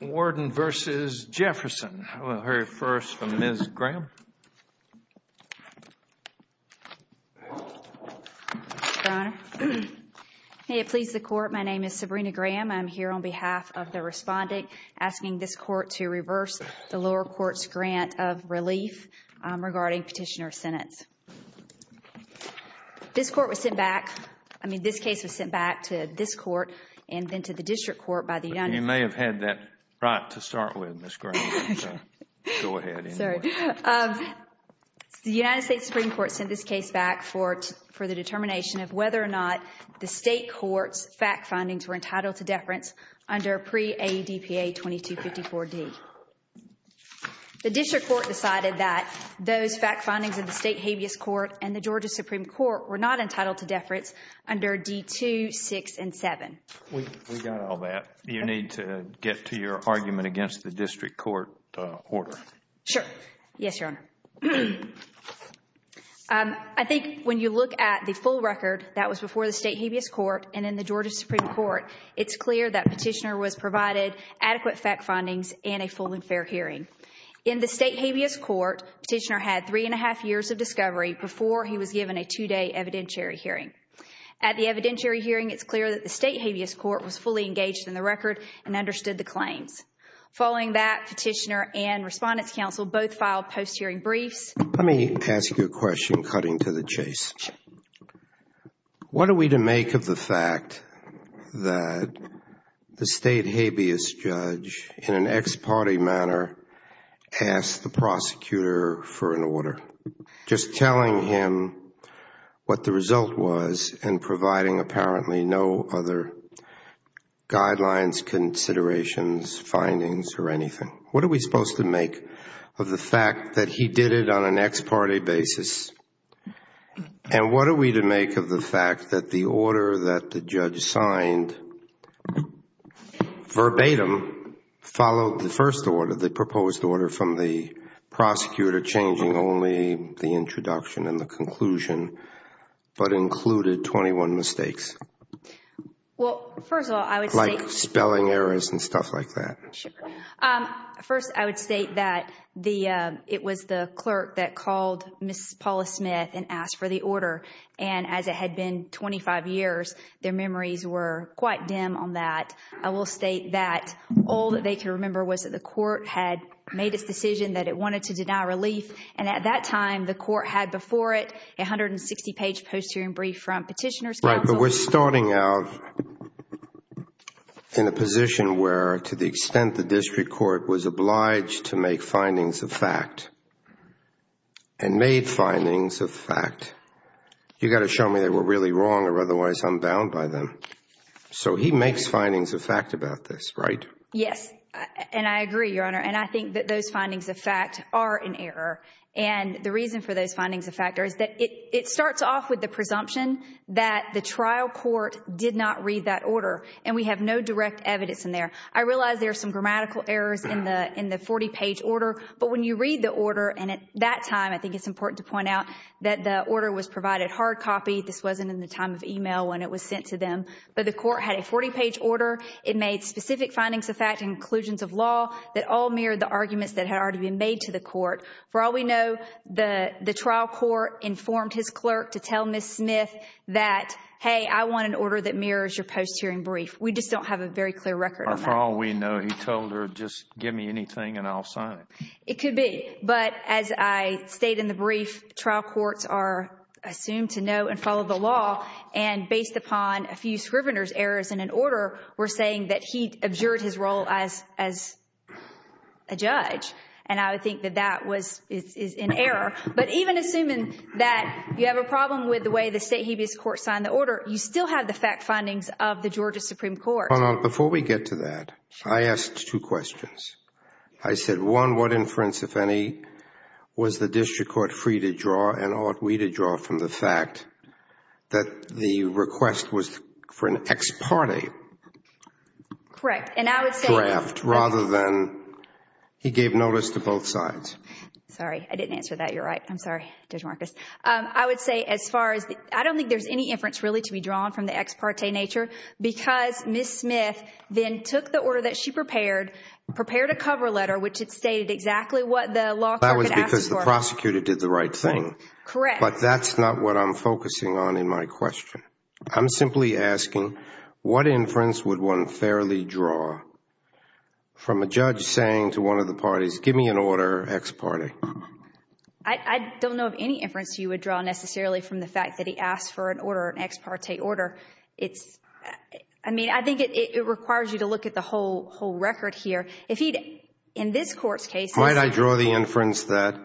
Warden v. Jefferson. We'll hear first from Ms. Graham. Your Honor, may it please the Court, my name is Sabrina Graham. I'm here on behalf of the respondent asking this Court to reverse the lower court's grant of relief regarding petitioner sentence. This Court was sent back, I mean this case was sent back to this Court and then to the District Court by the United States Supreme Court. You may have had that right to start with, Ms. Graham, so go ahead. The United States Supreme Court sent this case back for the determination of whether or not the State Court's fact findings were entitled to deference under pre-AEDPA 2254D. The District Court decided that those fact findings of the State Habeas Court and the Georgia Supreme Court were not entitled to deference under D-2, 6, and 7. We got all that. You need to get to your argument against the District Court order. Sure. Yes, Your Honor. I think when you look at the full record that was before the State Habeas Court and in the Georgia Supreme Court, it's clear that petitioner was provided adequate fact findings and a full and fair hearing. In the State Habeas Court, petitioner had three and a half years of discovery before he was given a two-day evidentiary hearing. At the evidentiary hearing, it's clear that the State Habeas Court was fully engaged in the record and understood the claims. Following that, petitioner and Respondents Council both filed post-hearing briefs. Let me ask you a question cutting to the chase. What are we to make of the fact that the State Habeas Judge in an ex-party manner asked the prosecutor for an order? Just telling him what the result was and providing apparently no other guidelines, considerations, findings, or anything. What are we supposed to make of the fact that he did it on an ex-party basis? And what are we to make of the fact that the order that the judge signed verbatim followed the first order, the proposed order from the prosecutor changing only the introduction and the conclusion, but included twenty-one mistakes? Well, first of all, I would state... Like spelling errors and stuff like that. Sure. First, I would state that it was the clerk that called Ms. Paula Smith and asked for the order. And as it had been twenty-five years, their memories were quite dim on that. I will state that all that they can remember was that the court had made its decision that it wanted to deny relief. And at that time, the court had before it a hundred and sixty page post-hearing brief from Petitioner's Council. Right. But we're starting out in a position where, to the extent the District Court was You got to show me they were really wrong or otherwise I'm bound by them. So he makes findings of fact about this, right? Yes. And I agree, Your Honor. And I think that those findings of fact are an error. And the reason for those findings of fact is that it starts off with the presumption that the trial court did not read that order. And we have no direct evidence in there. I realize there are some grammatical errors in the forty page order. But when you read the order, and at that time, I think it's important to point out that the order was provided hard copy. This wasn't in the time of email when it was sent to them. But the court had a forty page order. It made specific findings of fact and conclusions of law that all mirrored the arguments that had already been made to the court. For all we know, the trial court informed his clerk to tell Ms. Smith that, hey, I want an order that mirrors your post-hearing brief. We just don't have a very clear record of that. Or for all we know, he told her, just give me anything and I'll sign it. It could be. But as I state in the brief, trial courts are assumed to know and follow the law. And based upon a few Scrivener's errors in an order, we're saying that he absurd his role as a judge. And I would think that that was, is an error. But even assuming that you have a problem with the way the state habeas court signed the order, you still have the fact findings of the Georgia Supreme Court. Before we get to that, I asked two questions. I said, one, what inference, if any, was the district court free to draw and ought we to draw from the fact that the request was for an ex parte draft rather than he gave notice to both sides? Sorry, I didn't answer that. You're right. I'm sorry, Judge Marcus. I would say as far as, I don't think there's any inference really to be drawn from the ex parte nature because Ms. Smith then took the order that she prepared, prepared a cover letter, which had stated exactly what the law clerk had asked for. That was because the prosecutor did the right thing. Correct. But that's not what I'm focusing on in my question. I'm simply asking, what inference would one fairly draw from a judge saying to one of the parties, give me an order, ex parte? I don't know of any inference you would draw necessarily from the fact that he asked for an order, an ex parte order. I mean, I think it requires you to look at the whole record here. If he'd, in this court's case. Might I draw the inference that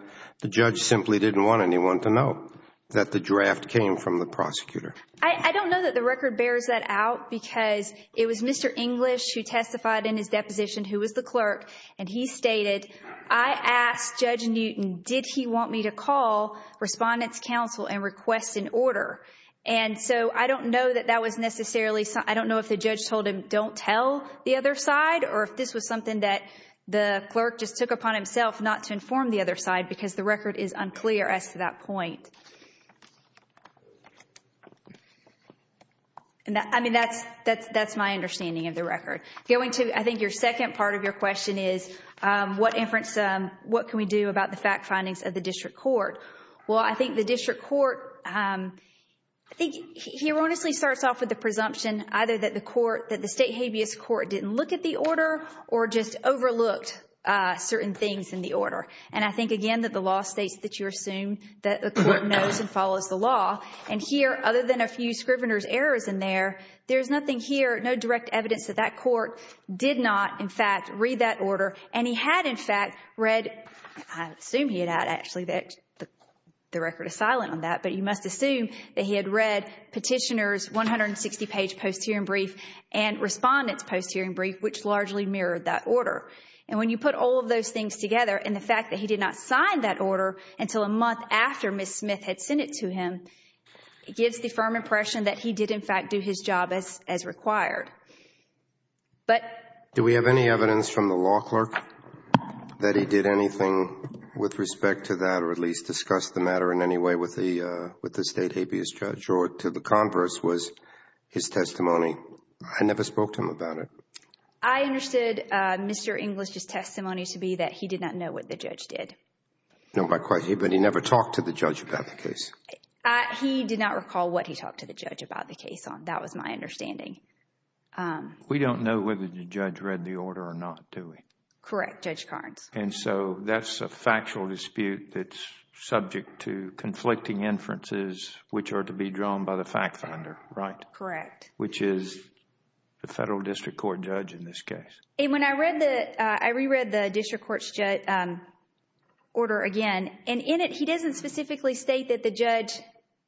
the judge simply didn't want anyone to know that the draft came from the prosecutor? I don't know that the record bears that out because it was Mr. English who testified in his deposition, who was the clerk, and he stated, I asked Judge Newton, did he want me to call Respondent's Counsel and request an order? I don't know that that was necessarily, I don't know if the judge told him, don't tell the other side, or if this was something that the clerk just took upon himself not to inform the other side because the record is unclear as to that point. I mean, that's my understanding of the record. I think your second part of your question is, what inference, what can we do about the district court? Well, I think the district court, I think he erroneously starts off with the presumption either that the state habeas court didn't look at the order or just overlooked certain things in the order. And I think, again, that the law states that you assume that the court knows and follows the law. And here, other than a few Scrivener's errors in there, there's nothing here, no direct And he had, in fact, read, I assume he had actually, the record is silent on that, but you must assume that he had read Petitioner's 160-page post-hearing brief and Respondent's post-hearing brief, which largely mirrored that order. And when you put all of those things together, and the fact that he did not sign that order until a month after Ms. Smith had sent it to him, it gives the firm impression that he did, in fact, do his job as required. But Do we have any evidence from the law clerk that he did anything with respect to that or at least discuss the matter in any way with the state habeas judge or to the converse was his testimony? I never spoke to him about it. I understood Mr. English's testimony to be that he did not know what the judge did. No, but he never talked to the judge about the case. He did not recall what he talked to the judge about the case on. That was my understanding. We don't know whether the judge read the order or not, do we? Correct, Judge Carnes. And so, that's a factual dispute that's subject to conflicting inferences, which are to be drawn by the fact finder, right? Correct. Which is the federal district court judge in this case. And when I read the... I reread the district court's order again, and in it, he doesn't specifically state that the judge...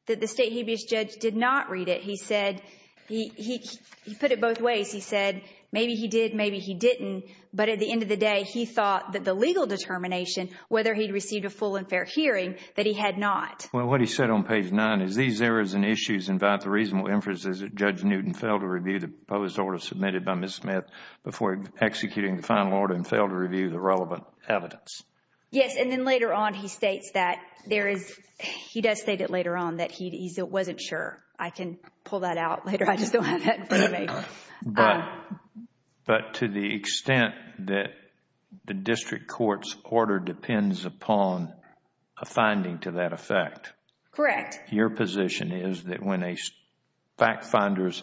that the state habeas judge did not read it. He said... he put it both ways. He said, maybe he did, maybe he didn't. But at the end of the day, he thought that the legal determination, whether he'd received a full and fair hearing, that he had not. Well, what he said on page 9 is, these errors and issues invite the reasonable inferences that Judge Newton failed to review the proposed order submitted by Ms. Smith before executing the final order and failed to review the relevant evidence. Yes, and then later on, he states that there is... he does state it later on that he wasn't sure. I can pull that out later. I just don't have that in front of me. But to the extent that the district court's order depends upon a finding to that effect. Correct. Your position is that when a fact finder's...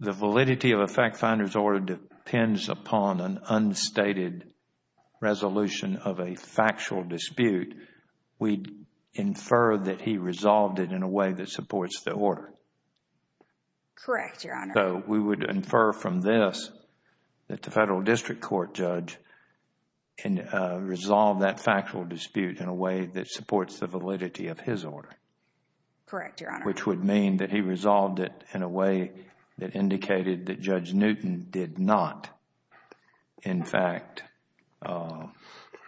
the validity of a fact finder's order depends upon an unstated resolution of a factual dispute, we infer that he resolved it in a way that supports the order. Correct, Your Honor. So, we would infer from this that the federal district court judge can resolve that factual dispute in a way that supports the validity of his order. Correct, Your Honor. Which would mean that he resolved it in a way that indicated that Judge Newton did not, in fact,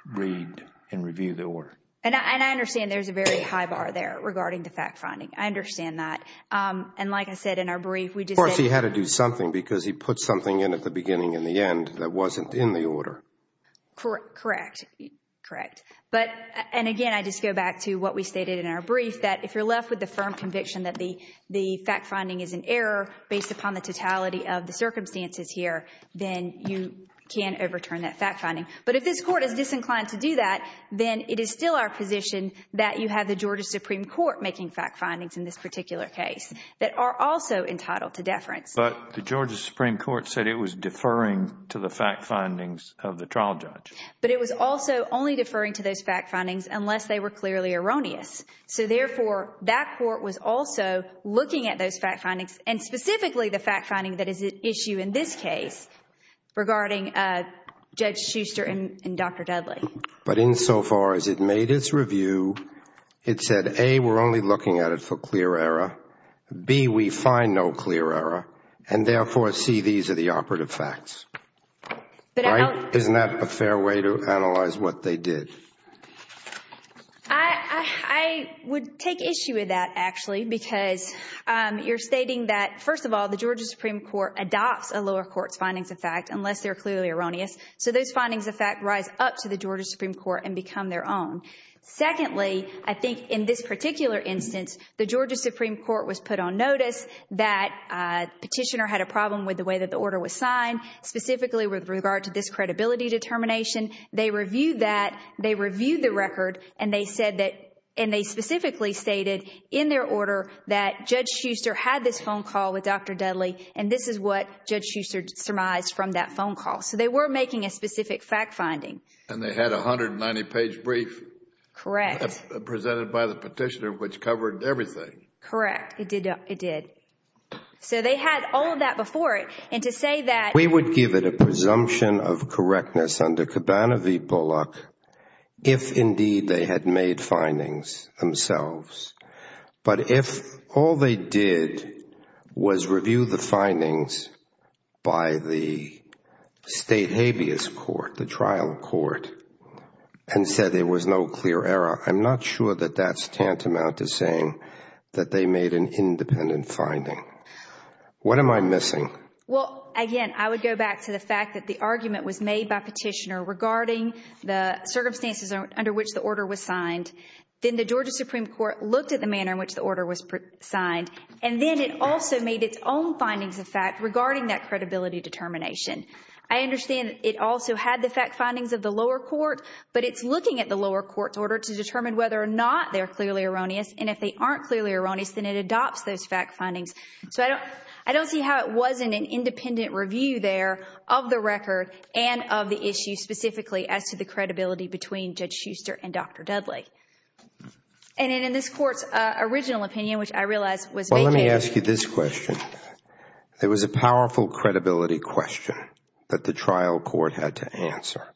read and review the order. And I understand there's a very high bar there regarding the fact finding. I understand that. And like I said in our brief, we just... Of course, he had to do something because he put something in at the beginning and the end that wasn't in the order. Correct. Correct. But, and again, I just go back to what we stated in our brief, that if you're left with the firm conviction that the fact finding is an error based upon the totality of the circumstances here, then you can overturn that fact finding. But if this Court is disinclined to do that, then it is still our position that you have the Georgia Supreme Court making fact findings in this particular case that are also entitled to deference. But the Georgia Supreme Court said it was deferring to the fact findings of the trial judge. But it was also only deferring to those fact findings unless they were clearly erroneous. So therefore, that Court was also looking at those fact findings and specifically the fact finding that is at issue in this case regarding Judge Shuster and Dr. Dudley. But insofar as it made its review, it said, A, we're only looking at it for clear error, B, we find no clear error, and therefore, C, these are the operative facts. Right? Isn't that a fair way to analyze what they did? I would take issue with that, actually, because you're stating that, first of all, the Georgia Supreme Court adopts a lower court's findings of fact unless they're clearly erroneous. So those findings of fact rise up to the Georgia Supreme Court and become their own. Secondly, I think in this particular instance, the Georgia Supreme Court was put on notice that Petitioner had a problem with the way that the order was signed, specifically with regard to this credibility determination. They reviewed that, they reviewed the record, and they specifically stated in their order that Judge Shuster had this phone call with Dr. Dudley, and this is what Judge Shuster surmised from that phone call. So they were making a specific fact finding. And they had a 190-page brief. Correct. Presented by the Petitioner, which covered everything. Correct. It did. So they had all of that before it, and to say that We would give it a presumption of correctness under Cabanavy-Bullock if, indeed, they had made findings themselves. But if all they did was review the findings by the state habeas court, the trial court, and said there was no clear error, I'm not sure that that's tantamount to saying that they made an independent finding. What am I missing? Well, again, I would go back to the fact that the argument was made by Petitioner regarding the circumstances under which the order was signed. Then the Georgia Supreme Court looked at the manner in which the order was signed. And then it also made its own findings of fact regarding that credibility determination. I understand it also had the fact findings of the lower court, but it's looking at the lower court's order to determine whether or not they're clearly erroneous, and if they aren't clearly erroneous, then it adopts those fact findings. So I don't see how it wasn't an independent review there of the record and of the issue specifically as to the credibility between Judge Shuster and Dr. Dudley. And in this court's original opinion, which I realize was made by the- Well, let me ask you this question. There was a powerful credibility question that the trial court had to answer.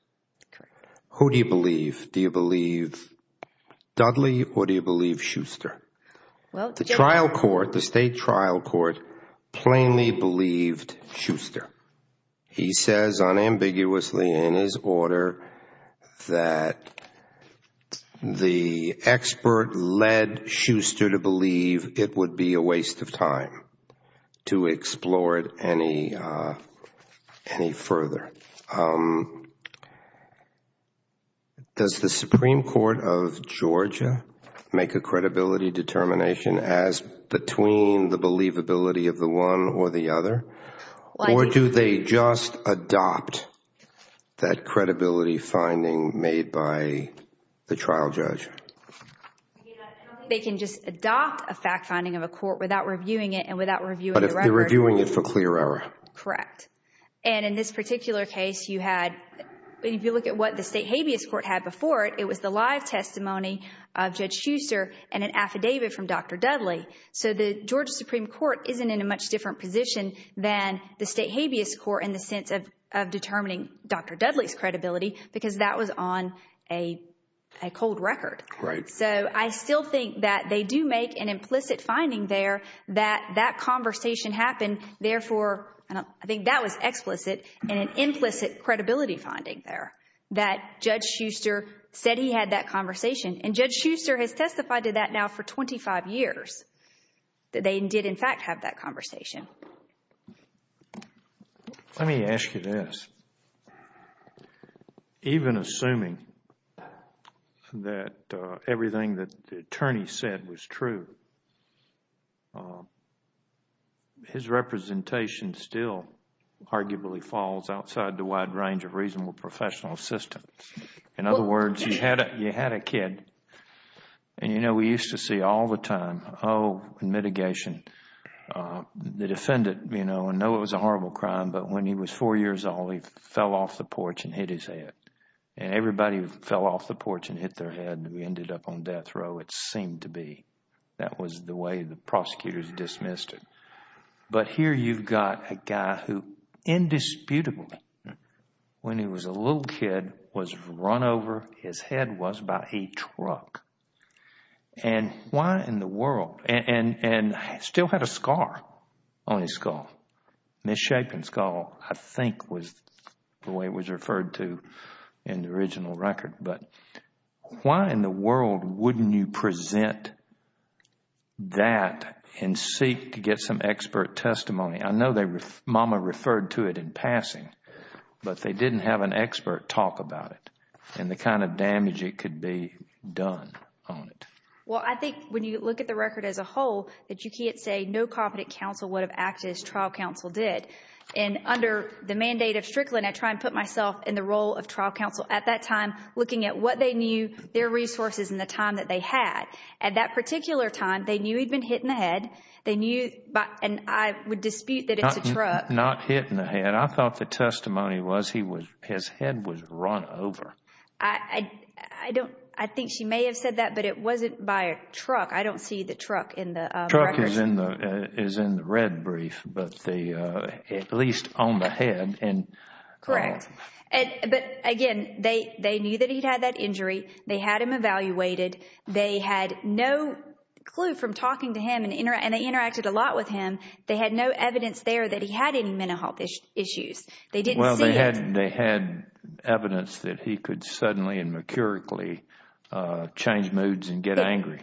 Who do you believe? Do you believe Dudley or do you believe Shuster? The trial court, the state trial court, plainly believed Shuster. He says unambiguously in his order that the expert led Shuster to believe it would be a waste of time to explore it any further. Does the Supreme Court of Georgia make a credibility determination as between the believability of the one or the other, or do they just adopt that credibility finding made by the trial judge? I don't think they can just adopt a fact finding of a court without reviewing it and without reviewing the record. But if they're reviewing it for clear error. Correct. And in this particular case, you had, if you look at what the state habeas court had before it, it was the live testimony of Judge Shuster and an affidavit from Dr. Dudley. So the Georgia Supreme Court isn't in a much different position than the state habeas court in the sense of determining Dr. Dudley's credibility because that was on a cold record. So I still think that they do make an implicit finding there that that conversation happened. Therefore, I think that was explicit in an implicit credibility finding there that Judge Shuster said he had that conversation. And Judge Shuster has testified to that now for 25 years, that they did in fact have that conversation. Let me ask you this. Even assuming that everything that the attorney said was true, his representation still arguably falls outside the wide range of reasonable professional assistance. In other words, you had a kid and, you know, we used to see all the time, oh, in mitigation, the defendant, you know, I know it was a horrible crime but when he was four years old, he fell off the porch and hit his head. And everybody fell off the porch and hit their head and we ended up on death row, it seemed to be. That was the way the prosecutors dismissed it. But here you've got a guy who indisputably, when he was a little kid, was run over, his head was by a truck. And why in the world? And still had a scar on his skull, misshapen skull, I think was the way it was referred to in the original record. But why in the world wouldn't you present that and seek to get some expert testimony? I know Mama referred to it in passing, but they didn't have an expert talk about it and the kind of damage it could be done on it. Well, I think when you look at the record as a whole, that you can't say no competent counsel would have acted as trial counsel did. And under the mandate of Strickland, I try and put myself in the role of trial counsel at that time, looking at what they knew, their resources and the time that they had. At that particular time, they knew he'd been hit in the head. They knew, and I would dispute that it's a truck. Not hit in the head. I thought the testimony was his head was run over. I think she may have said that, but it wasn't by a truck. I don't see the truck in the record. The truck is in the red brief, but at least on the head. Correct. But again, they knew that he'd had that injury. They had him evaluated. They had no clue from talking to him, and they interacted a lot with him. They had no evidence there that he had any mental health issues. They didn't see it. Well, they had evidence that he could suddenly and mercurically change moods and get angry.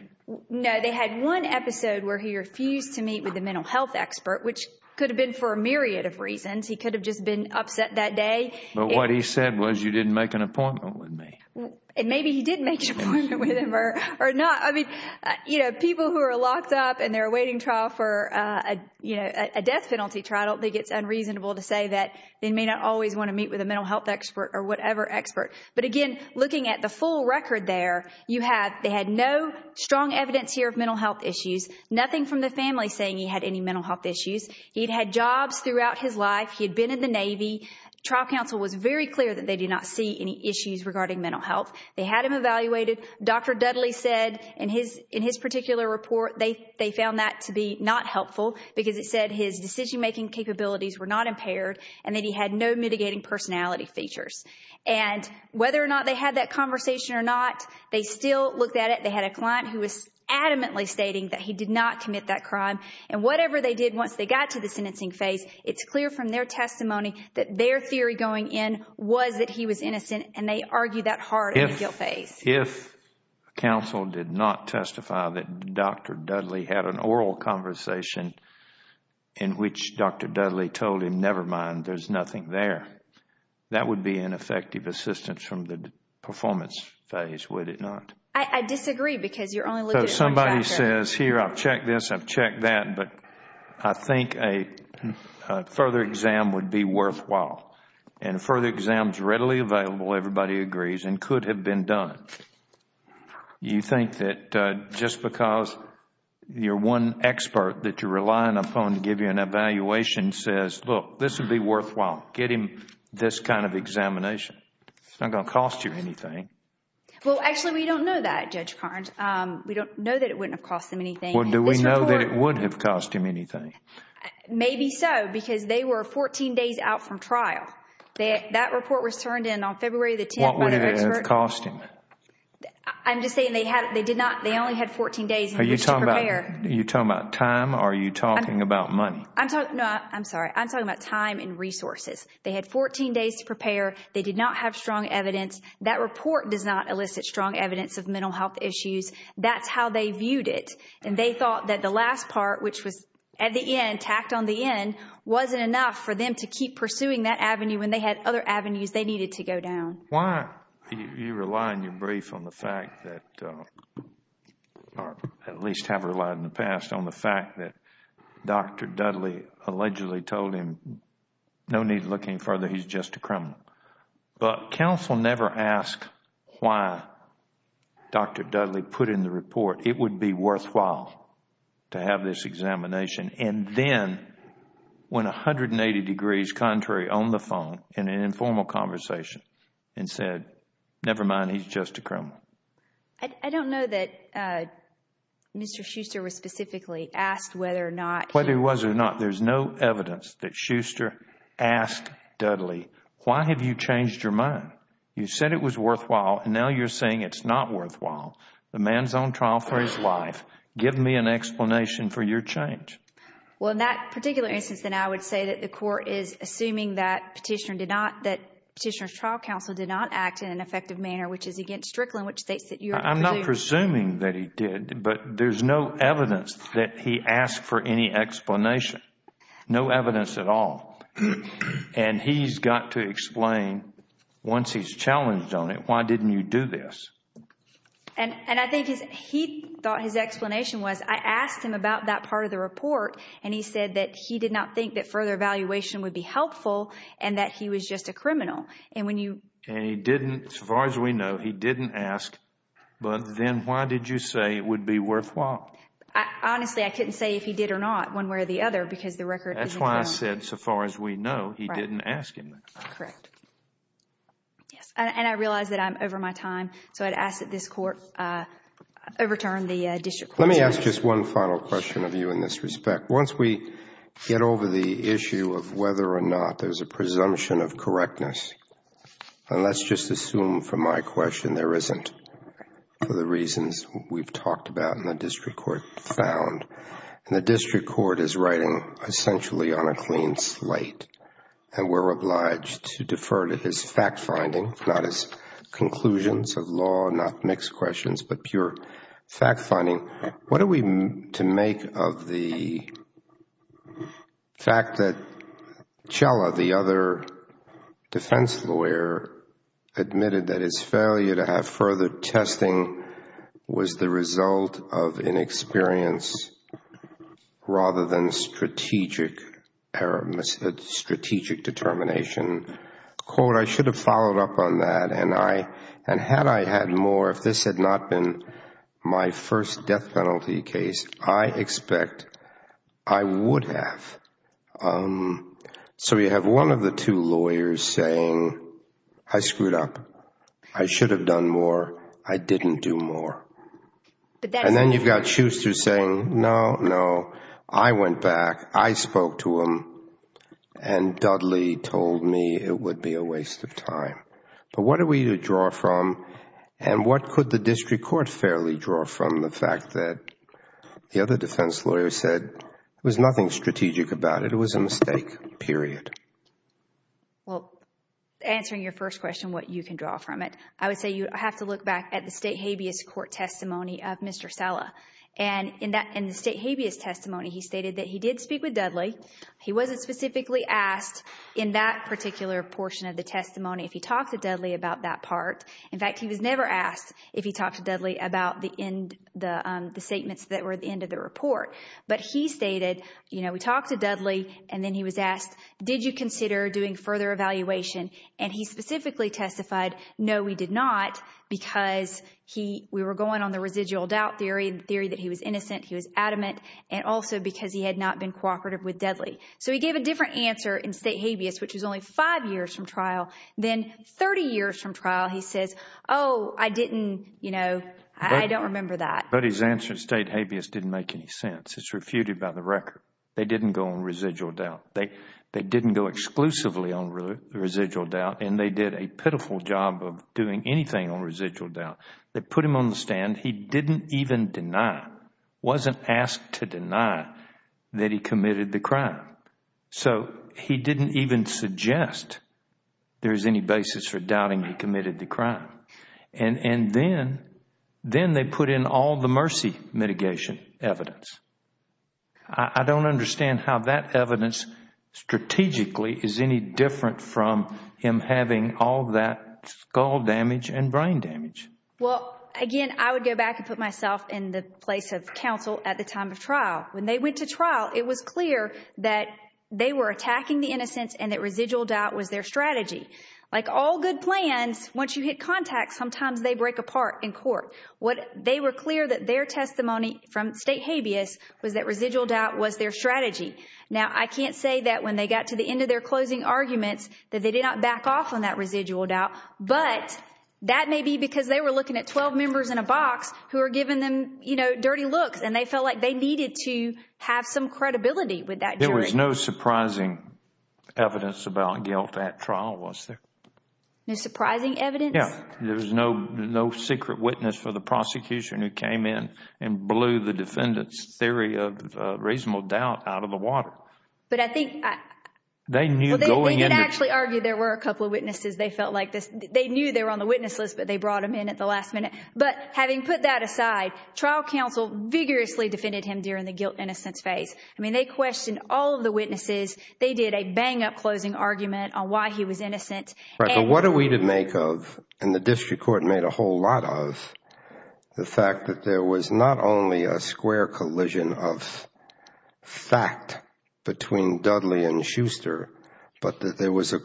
No, they had one episode where he refused to meet with a mental health expert, which could have been for a myriad of reasons. He could have just been upset that day. But what he said was, you didn't make an appointment with me. Maybe he did make an appointment with him. People who are locked up and they're awaiting trial for a death penalty trial, I don't think it's unreasonable to say that they may not always want to meet with a mental health expert or whatever expert. But again, looking at the full record there, they had no strong evidence here of mental health issues. Nothing from the family saying he had any mental health issues. He'd had jobs throughout his life. He had been in the Navy. Trial counsel was very clear that they did not see any issues regarding mental health. They had him evaluated. Dr. Dudley said in his particular report, they found that to be not helpful because it said his decision-making capabilities were not impaired and that he had no mitigating personality features. And whether or not they had that conversation or not, they still looked at it. They had a client who was adamantly stating that he did not commit that crime. And whatever they did once they got to the sentencing phase, it's clear from their testimony that their theory going in was that he was innocent. And they argued that hard in the guilt phase. If counsel did not testify that Dr. Dudley had an oral conversation in which Dr. Dudley told him, never mind, there's nothing there, that would be ineffective assistance from the performance phase, would it not? I disagree because you're only looking at one chapter. Everybody says, here, I've checked this, I've checked that, but I think a further exam would be worthwhile. And a further exam is readily available, everybody agrees, and could have been done. You think that just because you're one expert that you're relying upon to give you an evaluation says, look, this would be worthwhile, getting this kind of examination, it's not going to cost you anything. Well, actually, we don't know that, Judge Carnes. We don't know that it wouldn't have cost them anything. Well, do we know that it would have cost them anything? Maybe so, because they were 14 days out from trial. That report was turned in on February the 10th by their expert. What would it have cost them? I'm just saying they only had 14 days to prepare. You're talking about time or are you talking about money? I'm sorry, I'm talking about time and resources. They had 14 days to prepare, they did not have strong evidence, that report does not That's how they viewed it. And they thought that the last part, which was at the end, tacked on the end, wasn't enough for them to keep pursuing that avenue when they had other avenues they needed to go down. Why do you rely on your brief on the fact that, or at least have relied in the past on the fact that Dr. Dudley allegedly told him, no need to look any further, he's just a criminal. But counsel never asked why Dr. Dudley put in the report. It would be worthwhile to have this examination and then went 180 degrees contrary on the phone in an informal conversation and said, never mind, he's just a criminal. I don't know that Mr. Schuster was specifically asked whether or not he Whether he was or not. There's no evidence that Schuster asked Dudley. Why have you changed your mind? You said it was worthwhile and now you're saying it's not worthwhile. The man's on trial for his life. Give me an explanation for your change. Well, in that particular instance, then I would say that the court is assuming that Petitioner did not, that Petitioner's trial counsel did not act in an effective manner, which is against Strickland, which states that you are presuming I'm not presuming that he did, but there's no evidence that he asked for any explanation. No evidence at all. And he's got to explain, once he's challenged on it, why didn't you do this? And I think he thought his explanation was, I asked him about that part of the report and he said that he did not think that further evaluation would be helpful and that he was just a criminal. And when you And he didn't, as far as we know, he didn't ask, but then why did you say it would be worthwhile? Honestly, I couldn't say if he did or not one way or the other because the record That's why I said, so far as we know, he didn't ask him that. Correct. Yes. And I realize that I'm over my time, so I'd ask that this court overturn the district court's ruling. Let me ask just one final question of you in this respect. Once we get over the issue of whether or not there's a presumption of correctness, and let's just assume, from my question, there isn't, for the reasons we've talked about and the district court found, and the district court is writing essentially on a clean slate and we're obliged to defer to his fact-finding, not his conclusions of law, not mixed questions, but pure fact-finding, what are we to make of the fact that Chella, the other defense lawyer, admitted that his failure to have further testing was the result of inexperience rather than strategic determination? I should have followed up on that, and had I had more, if this had not been my first death penalty case, I expect I would have. So you have one of the two lawyers saying, I screwed up, I should have done more, I didn't do more. And then you've got Schuster saying, no, no, I went back, I spoke to him, and Dudley told me it would be a waste of time. But what are we to draw from, and what could the district court fairly draw from the fact that the other defense lawyer said there was nothing strategic about it, it was a mistake, period? Well, answering your first question, what you can draw from it, I would say you have to look back at the State Habeas Court testimony of Mr. Chella. And in the State Habeas testimony, he stated that he did speak with Dudley. He wasn't specifically asked in that particular portion of the testimony if he talked to Dudley about that part. In fact, he was never asked if he talked to Dudley about the statements that were at the end of the report. But he stated, you know, we talked to Dudley, and then he was asked, did you consider doing further evaluation? And he specifically testified, no, we did not, because we were going on the residual doubt theory, the theory that he was innocent, he was adamant, and also because he had not been cooperative with Dudley. So he gave a different answer in State Habeas, which was only five years from trial, than 30 years from trial, he says, oh, I didn't, you know, I don't remember that. But his answer in State Habeas didn't make any sense. It's refuted by the record. They didn't go on residual doubt. They didn't go exclusively on residual doubt, and they did a pitiful job of doing anything on residual doubt. They put him on the stand. He didn't even deny, wasn't asked to deny, that he committed the crime. So he didn't even suggest there's any basis for doubting he committed the crime. And then, then they put in all the mercy mitigation evidence. I don't understand how that evidence strategically is any different from him having all that skull damage and brain damage. Well, again, I would go back and put myself in the place of counsel at the time of trial. When they went to trial, it was clear that they were attacking the innocents and that residual doubt was their strategy. Like all good plans, once you hit contact, sometimes they break apart in court. They were clear that their testimony from State Habeas was that residual doubt was their strategy. Now, I can't say that when they got to the end of their closing arguments that they did not back off on that residual doubt, but that may be because they were looking at 12 members in a box who were giving them, you know, dirty looks, and they felt like they needed to have some credibility with that jury. There was no surprising evidence about guilt at trial, was there? No surprising evidence? Yeah. There was no secret witness for the prosecution who came in and blew the defendant's theory of residual doubt out of the water. But I think... They knew going in... Well, they did actually argue there were a couple of witnesses they felt like this. But they brought them in at the last minute. But having put that aside, trial counsel vigorously defended him during the guilt-innocence phase. I mean, they questioned all of the witnesses. They did a bang-up closing argument on why he was innocent. Right. But what are we to make of, and the district court made a whole lot of, the fact that there was not only a square collision of fact between Dudley and Schuster, but that there was a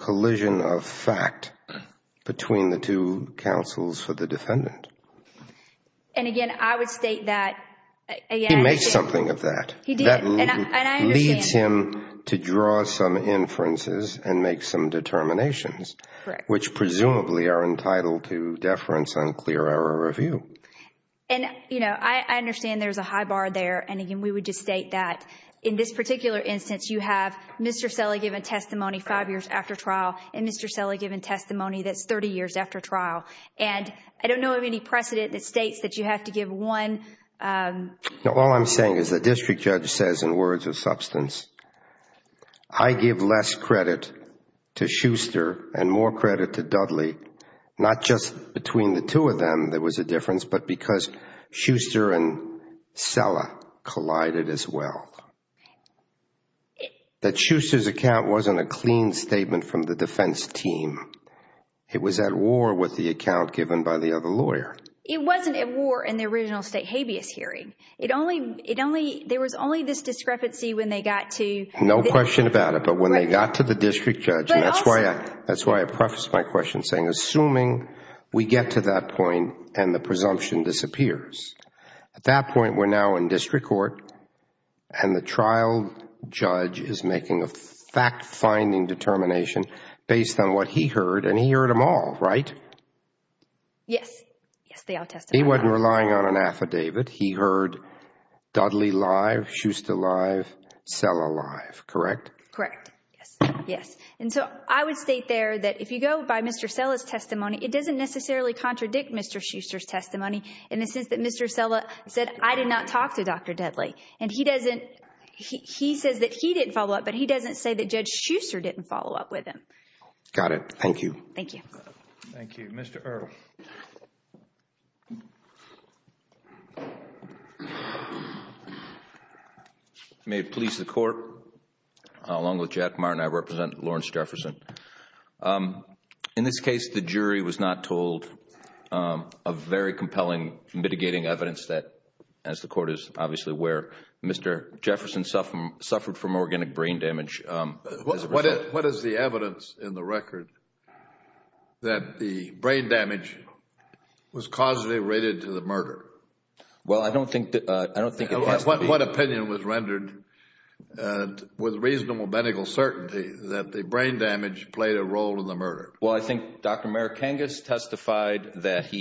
And again, I would state that... He makes something of that. He did. And I understand. That leads him to draw some inferences and make some determinations. Correct. Which presumably are entitled to deference on clear error review. And you know, I understand there's a high bar there. And again, we would just state that in this particular instance, you have Mr. Selle given testimony five years after trial, and Mr. Selle given testimony that's 30 years after trial. And I don't know of any precedent that states that you have to give one... No, all I'm saying is the district judge says in words of substance, I give less credit to Schuster and more credit to Dudley, not just between the two of them there was a difference, but because Schuster and Selle collided as well. That Schuster's account wasn't a clean statement from the defense team. It was at war with the account given by the other lawyer. It wasn't at war in the original state habeas hearing. There was only this discrepancy when they got to... No question about it. But when they got to the district judge, and that's why I preface my question saying assuming we get to that point and the presumption disappears, at that point we're now in district court and the trial judge is making a fact-finding determination based on what he heard, and he heard them all, right? Yes. Yes, they all testified. He wasn't relying on an affidavit. He heard Dudley live, Schuster live, Selle live, correct? Correct. Yes. Yes. And so I would state there that if you go by Mr. Selle's testimony, it doesn't necessarily contradict Mr. Schuster's testimony in the sense that Mr. Selle said, I did not talk to Dr. Dudley. And he doesn't... He says that he didn't follow up, but he doesn't say that Judge Schuster didn't follow up with him. Got it. Thank you. Thank you. Thank you. Mr. Earle. If it may please the court, along with Jack Martin, I represent Lawrence Jefferson. In this case, the jury was not told a very compelling mitigating evidence that, as the case, obviously, where Mr. Jefferson suffered from organic brain damage as a result. What is the evidence in the record that the brain damage was causally related to the murder? Well, I don't think it has to be... What opinion was rendered with reasonable medical certainty that the brain damage played a role in the murder? Well, I think Dr. Marikangas testified that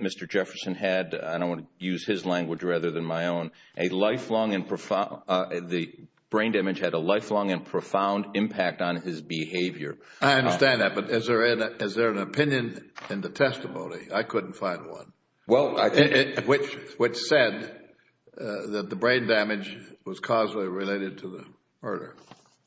Mr. Jefferson had, I don't want to use his own, a lifelong and profound... The brain damage had a lifelong and profound impact on his behavior. I understand that. But is there an opinion in the testimony? I couldn't find one, which said that the brain damage was causally related to the murder.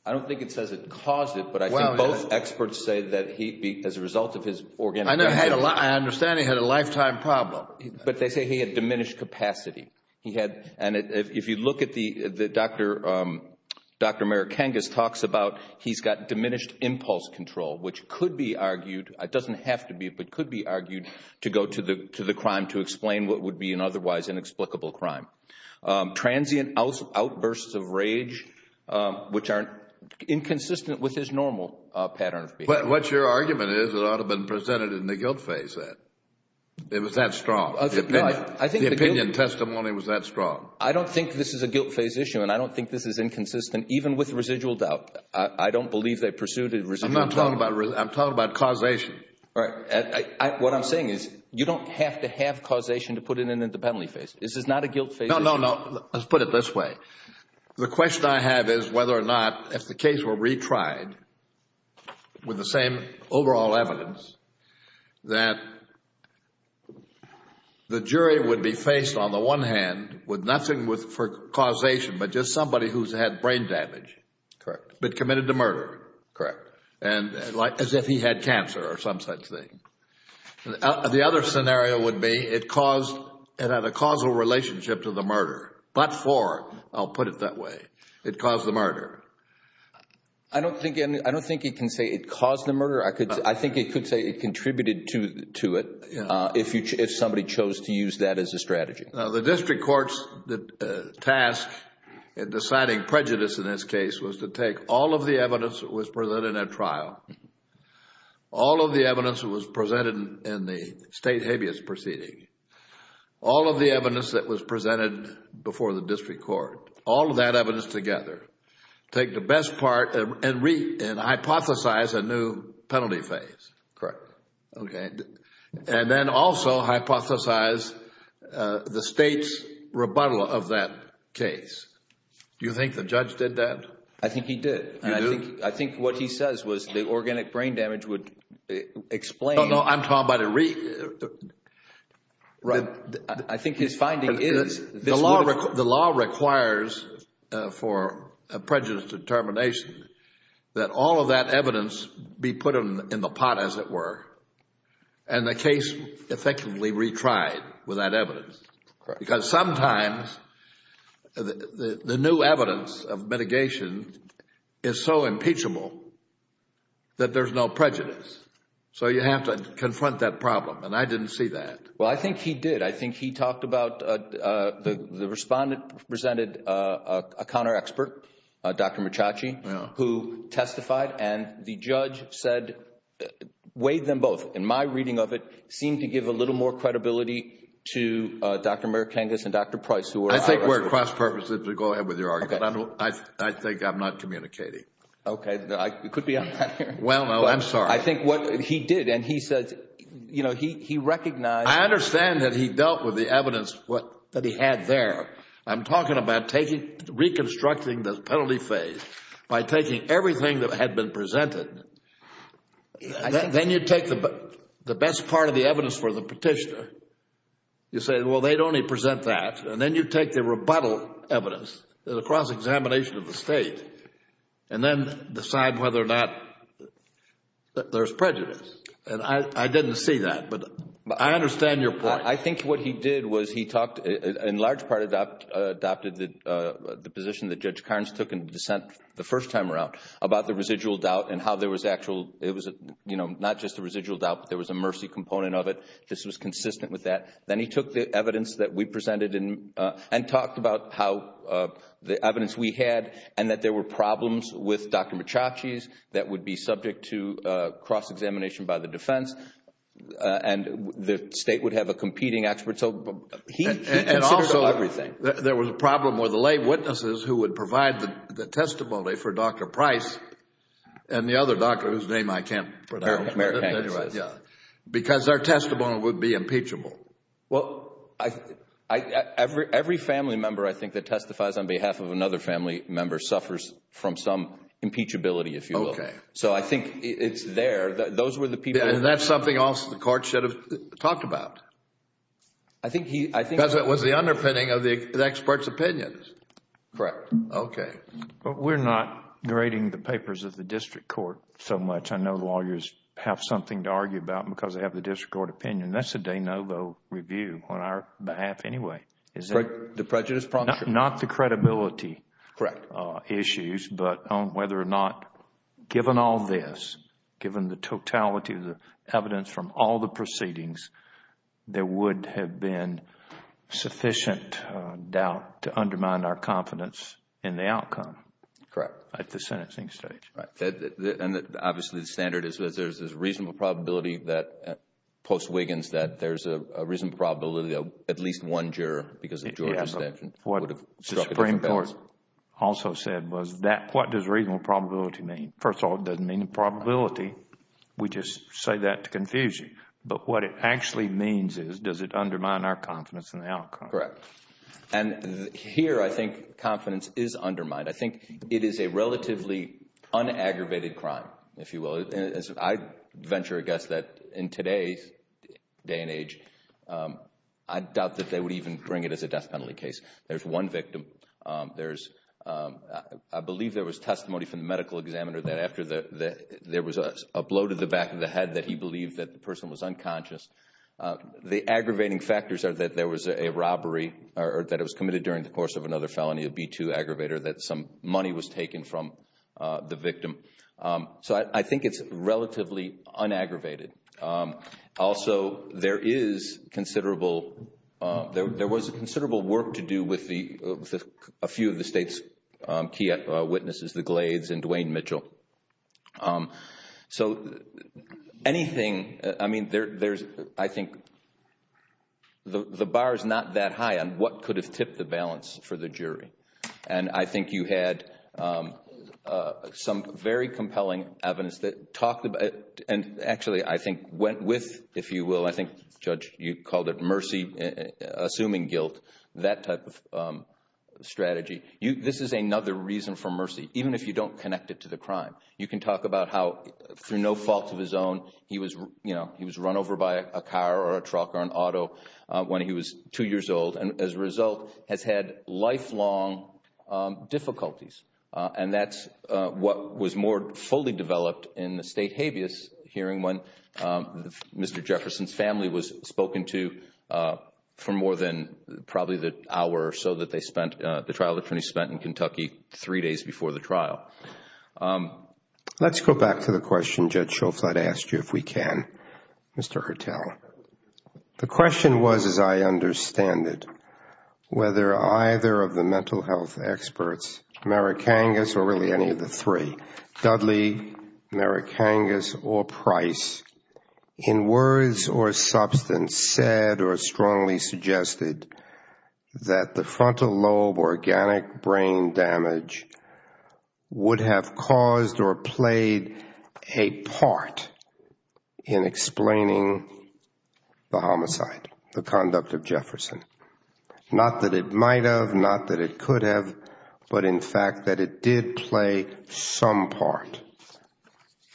I don't think it says it caused it, but I think both experts say that he, as a result of his organic... I understand he had a lifetime problem. But they say he had diminished capacity. And if you look at what Dr. Marikangas talks about, he's got diminished impulse control, which could be argued, it doesn't have to be, but could be argued to go to the crime to explain what would be an otherwise inexplicable crime. Transient outbursts of rage, which are inconsistent with his normal pattern of behavior. What your argument is, it ought to have been presented in the guilt phase then. It was that strong. The opinion testimony was that strong. I don't think this is a guilt phase issue, and I don't think this is inconsistent, even with residual doubt. I don't believe they pursued a residual doubt. I'm talking about causation. What I'm saying is, you don't have to have causation to put it in the penalty phase. This is not a guilt phase issue. No, no, no. Let's put it this way. The question I have is whether or not, if the case were retried with the same overall evidence, that the jury would be faced, on the one hand, with nothing for causation, but just somebody who's had brain damage, but committed the murder, as if he had cancer or some such thing. The other scenario would be, it had a causal relationship to the murder, but for, I'll put it that way, it caused the murder. I think you could say it contributed to it, if somebody chose to use that as a strategy. The district court's task in deciding prejudice in this case was to take all of the evidence that was presented at trial, all of the evidence that was presented in the state habeas proceeding, all of the evidence that was presented before the district court, all of that evidence together, take the best part and hypothesize a new penalty phase. Correct. Okay. And then also hypothesize the state's rebuttal of that case. Do you think the judge did that? I think he did. You do? I think what he says was the organic brain damage would explain... No, no. I'm talking about a re... Right. I think his finding is... The law requires for a prejudice determination that all of that evidence be put in the pot, as it were, and the case effectively retried with that evidence. Because sometimes the new evidence of mitigation is so impeachable that there's no prejudice. So you have to confront that problem, and I didn't see that. Well, I think he did. I think he talked about... The respondent presented a counter-expert, Dr. Maciacci, who testified, and the judge said... Weighed them both. In my reading of it, seemed to give a little more credibility to Dr. Merikangas and Dr. Price, who are... I think we're cross-purposed. Go ahead with your argument. Okay. I think I'm not communicating. Okay. It could be on that hearing. Well, no. I'm sorry. I think what he did, and he said... He recognized... I understand that he dealt with the evidence that he had there. I'm talking about reconstructing the penalty phase by taking everything that had been presented. Then you take the best part of the evidence for the petitioner, you say, well, they'd only present that, and then you take the rebuttal evidence, the cross-examination of the State, and then decide whether or not there's prejudice. I didn't see that, but I understand your point. I think what he did was he talked... In large part, adopted the position that Judge Carnes took in dissent the first time around about the residual doubt and how there was actual... It was not just a residual doubt, but there was a mercy component of it. This was consistent with that. Then he took the evidence that we presented and talked about how the evidence we had and that there were problems with Dr. Maciachy's that would be subject to cross-examination by the defense, and the State would have a competing expert. He considered everything. Also, there was a problem with the lay witnesses who would provide the testimony for Dr. Price and the other doctor whose name I can't pronounce, because their testimony would be impeachable. Well, every family member, I think, that testifies on behalf of another family member suffers from some impeachability, if you will. So I think it's there. Those were the people... And that's something else the court should have talked about. I think he... Because it was the underpinning of the expert's opinions. Correct. Okay. But we're not grading the papers of the district court so much. I know lawyers have something to argue about because they have the district court opinion. And that's a de novo review on our behalf anyway. The prejudice prompter. Not the credibility issues, but on whether or not given all this, given the totality of the evidence from all the proceedings, there would have been sufficient doubt to undermine our confidence in the outcome at the sentencing stage. Right. And obviously the standard is there's a reasonable probability that post Wiggins that there's a reasonable probability that at least one juror, because of Georgia's sanction, would have struck a different balance. What the Supreme Court also said was, what does reasonable probability mean? First of all, it doesn't mean the probability. We just say that to confuse you. But what it actually means is, does it undermine our confidence in the outcome? Correct. And here I think confidence is undermined. I think it is a relatively unaggravated crime, if you will. I venture a guess that in today's day and age, I doubt that they would even bring it as a death penalty case. There's one victim. I believe there was testimony from the medical examiner that after there was a blow to the back of the head that he believed that the person was unconscious. The aggravating factors are that there was a robbery or that it was committed during the course of another felony, a B-2 aggravator, that some money was taken from the victim. So I think it's relatively unaggravated. Also there was considerable work to do with a few of the state's key witnesses, the Glades and Dwayne Mitchell. So anything, I mean, I think the bar is not that high on what could have tipped the balance for the jury. And I think you had some very compelling evidence that talked about, and actually I think went with, if you will, I think, Judge, you called it mercy, assuming guilt, that type of strategy. This is another reason for mercy, even if you don't connect it to the crime. You can talk about how, through no fault of his own, he was run over by a car or a truck or an auto when he was two years old, and as a result has had lifelong difficulties. And that's what was more fully developed in the state habeas hearing when Mr. Jefferson's was spoken to for more than probably the hour or so that they spent, the trial attorney spent in Kentucky three days before the trial. Let's go back to the question Judge Schofield asked you, if we can, Mr. Hertel. The question was, as I understand it, whether either of the mental health experts, Merrick Angus or Price, in words or substance, said or strongly suggested that the frontal lobe organic brain damage would have caused or played a part in explaining the homicide, the conduct of Jefferson. Not that it might have, not that it could have, but in fact that it did play some part.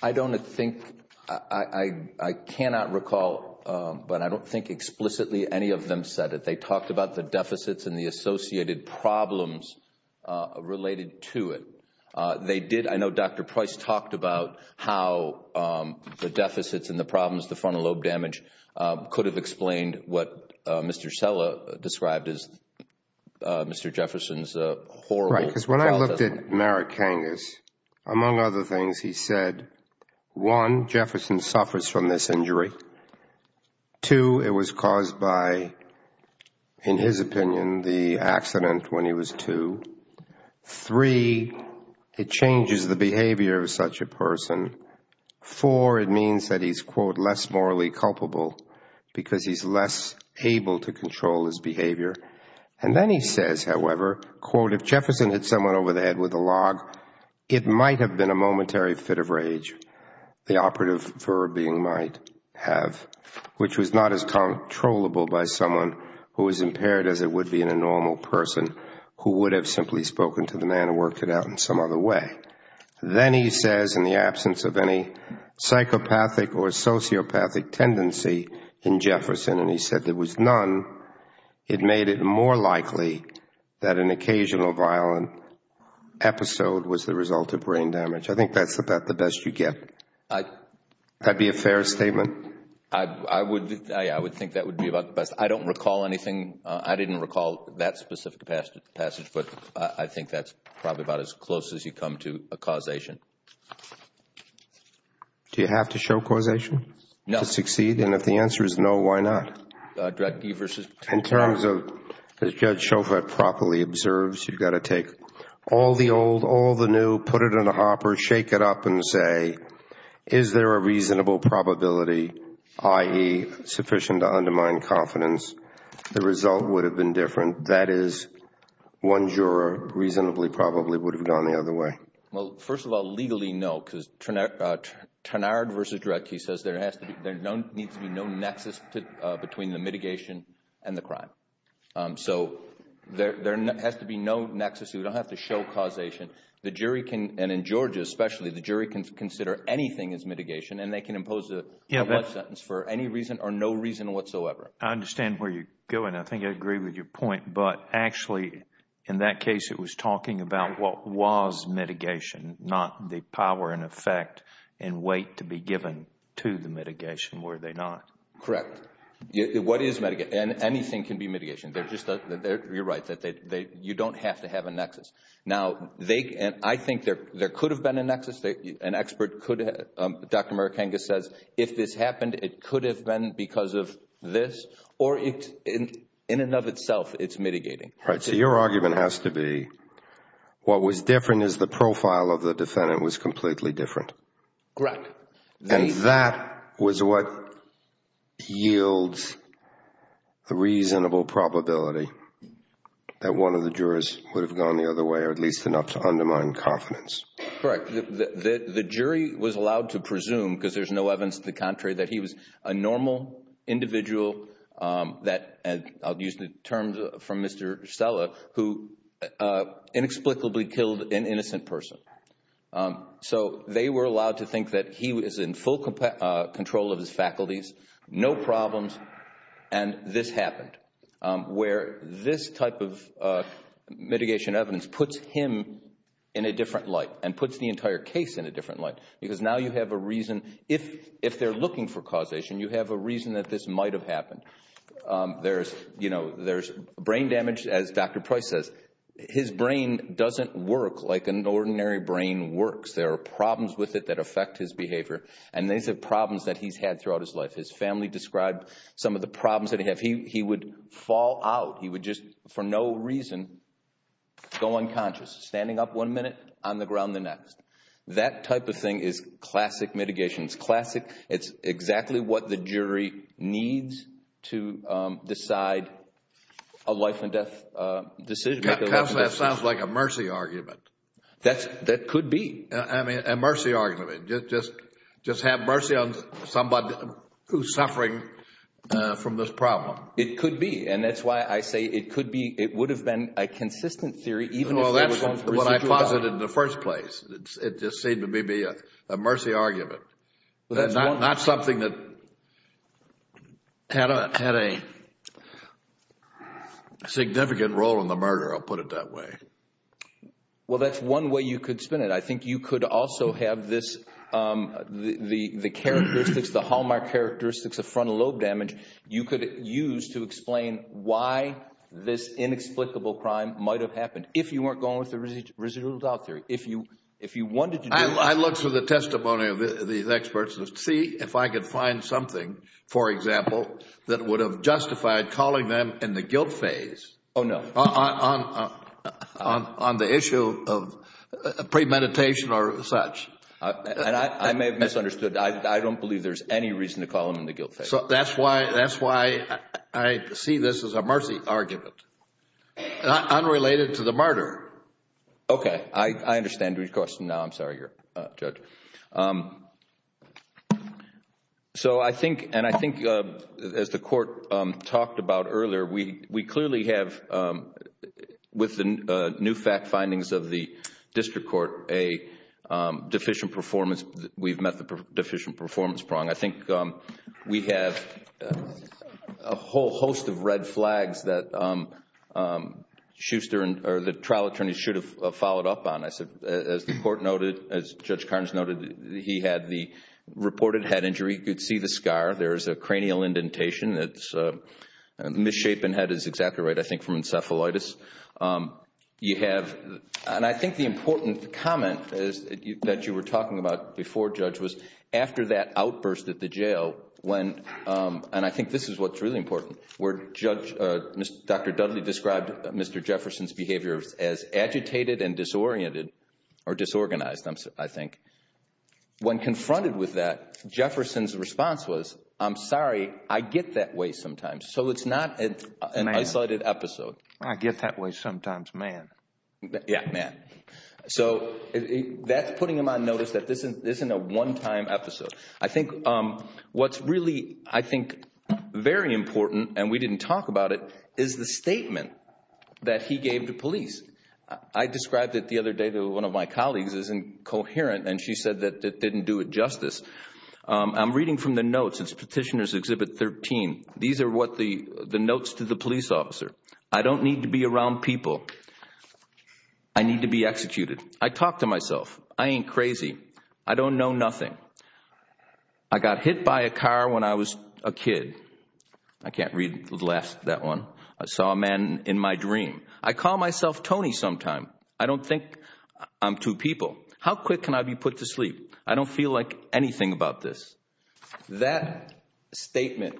I don't think, I cannot recall, but I don't think explicitly any of them said it. They talked about the deficits and the associated problems related to it. They did, I know Dr. Price talked about how the deficits and the problems, the frontal lobe damage, could have explained what Mr. Sella described as Mr. Jefferson's horrible trial testimony. Because when I looked at Merrick Angus, among other things, he said, one, Jefferson suffers from this injury, two, it was caused by, in his opinion, the accident when he was two, three, it changes the behavior of such a person, four, it means that he's, quote, less morally culpable because he's less able to control his behavior. And then he says, however, quote, if Jefferson hit someone over the head with a log, it might have been a momentary fit of rage, the operative verb being might have, which was not as controllable by someone who was impaired as it would be in a normal person who would have simply spoken to the man and worked it out in some other way. Then he says, in the absence of any psychopathic or sociopathic tendency in Jefferson, and made it more likely that an occasional violent episode was the result of brain damage. I think that's about the best you get. Would that be a fair statement? I would think that would be about the best. I don't recall anything. I didn't recall that specific passage, but I think that's probably about as close as you come to a causation. Do you have to show causation to succeed? And if the answer is no, why not? Dredge v. Trenard. In terms of, as Judge Chauvet properly observes, you've got to take all the old, all the new, put it in a hopper, shake it up and say, is there a reasonable probability, i.e., sufficient to undermine confidence, the result would have been different. That is, one juror reasonably probably would have gone the other way. Well, first of all, legally, no, because Trenard v. Dredge says there needs to be no nexus between the mitigation and the crime. So there has to be no nexus. You don't have to show causation. The jury can, and in Georgia especially, the jury can consider anything as mitigation and they can impose a life sentence for any reason or no reason whatsoever. I understand where you're going. I think I agree with your point, but actually, in that case, it was talking about what was mitigation, not the power and effect and weight to be given to the mitigation, were they not? Correct. What is mitigation? Anything can be mitigation. You're right, you don't have to have a nexus. I think there could have been a nexus. An expert could have, Dr. Merikangas says, if this happened, it could have been because of this or in and of itself, it's mitigating. So your argument has to be what was different is the profile of the defendant was completely different. Correct. And that was what yields the reasonable probability that one of the jurors would have gone the other way or at least enough to undermine confidence. Correct. The jury was allowed to presume, because there's no evidence to the contrary, that he was a normal individual that, I'll use the terms from Mr. Stella, who inexplicably killed an innocent person. So, they were allowed to think that he was in full control of his faculties, no problems, and this happened, where this type of mitigation evidence puts him in a different light and puts the entire case in a different light, because now you have a reason, if they're looking for causation, you have a reason that this might have happened. There's brain damage, as Dr. Price says. His brain doesn't work like an ordinary brain works. There are problems with it that affect his behavior, and these are problems that he's had throughout his life. His family described some of the problems that he had. He would fall out, he would just, for no reason, go unconscious, standing up one minute, on the ground the next. That type of thing is classic mitigation, it's classic. It's exactly what the jury needs to decide a life and death decision. Counselor, that sounds like a mercy argument. That could be. I mean, a mercy argument, just have mercy on somebody who's suffering from this problem. It could be, and that's why I say it could be. It would have been a consistent theory, even if they were going for residual value. Well, that's what I posited in the first place. It just seemed to me to be a mercy argument. Not something that had a significant role in the murder, I'll put it that way. Well, that's one way you could spin it. I think you could also have this, the hallmark characteristics of frontal lobe damage, you could use to explain why this inexplicable crime might have happened. If you weren't going with the residuals out there, if you wanted to do this. I looked through the testimony of these experts to see if I could find something, for example, that would have justified calling them in the guilt phase on the issue of premeditation or such. I may have misunderstood. I don't believe there's any reason to call them in the guilt phase. That's why I see this as a mercy argument, unrelated to the murder. Okay. I understand your question now, I'm sorry, Judge. I think, as the court talked about earlier, we clearly have, with the new fact findings of the district court, a deficient performance, we've met the deficient performance prong. I think we have a whole host of red flags that the trial attorneys should have followed up on. As the court noted, as Judge Carnes noted, he had the reported head injury, you could see the scar. There is a cranial indentation that's a misshapen head is exactly right, I think, from encephalitis. You have, and I think the important comment that you were talking about before, Judge, was after that outburst at the jail, when, and I think this is what's really important, where Judge, Dr. Dudley described Mr. Jefferson's behavior as agitated and disoriented, or disorganized, I think. When confronted with that, Jefferson's response was, I'm sorry, I get that way sometimes. So it's not an isolated episode. I get that way sometimes, man. Yeah, man. So that's putting him on notice that this isn't a one-time episode. I think what's really, I think, very important, and we didn't talk about it, is the statement that he gave to police. I described it the other day to one of my colleagues as incoherent, and she said that it didn't do it justice. I'm reading from the notes, it's Petitioner's Exhibit 13. These are the notes to the police officer. I don't need to be around people. I need to be executed. I talk to myself. I ain't crazy. I don't know nothing. I got hit by a car when I was a kid. I can't read the last of that one. I saw a man in my dream. I call myself Tony sometime. I don't think I'm two people. How quick can I be put to sleep? I don't feel like anything about this. That statement,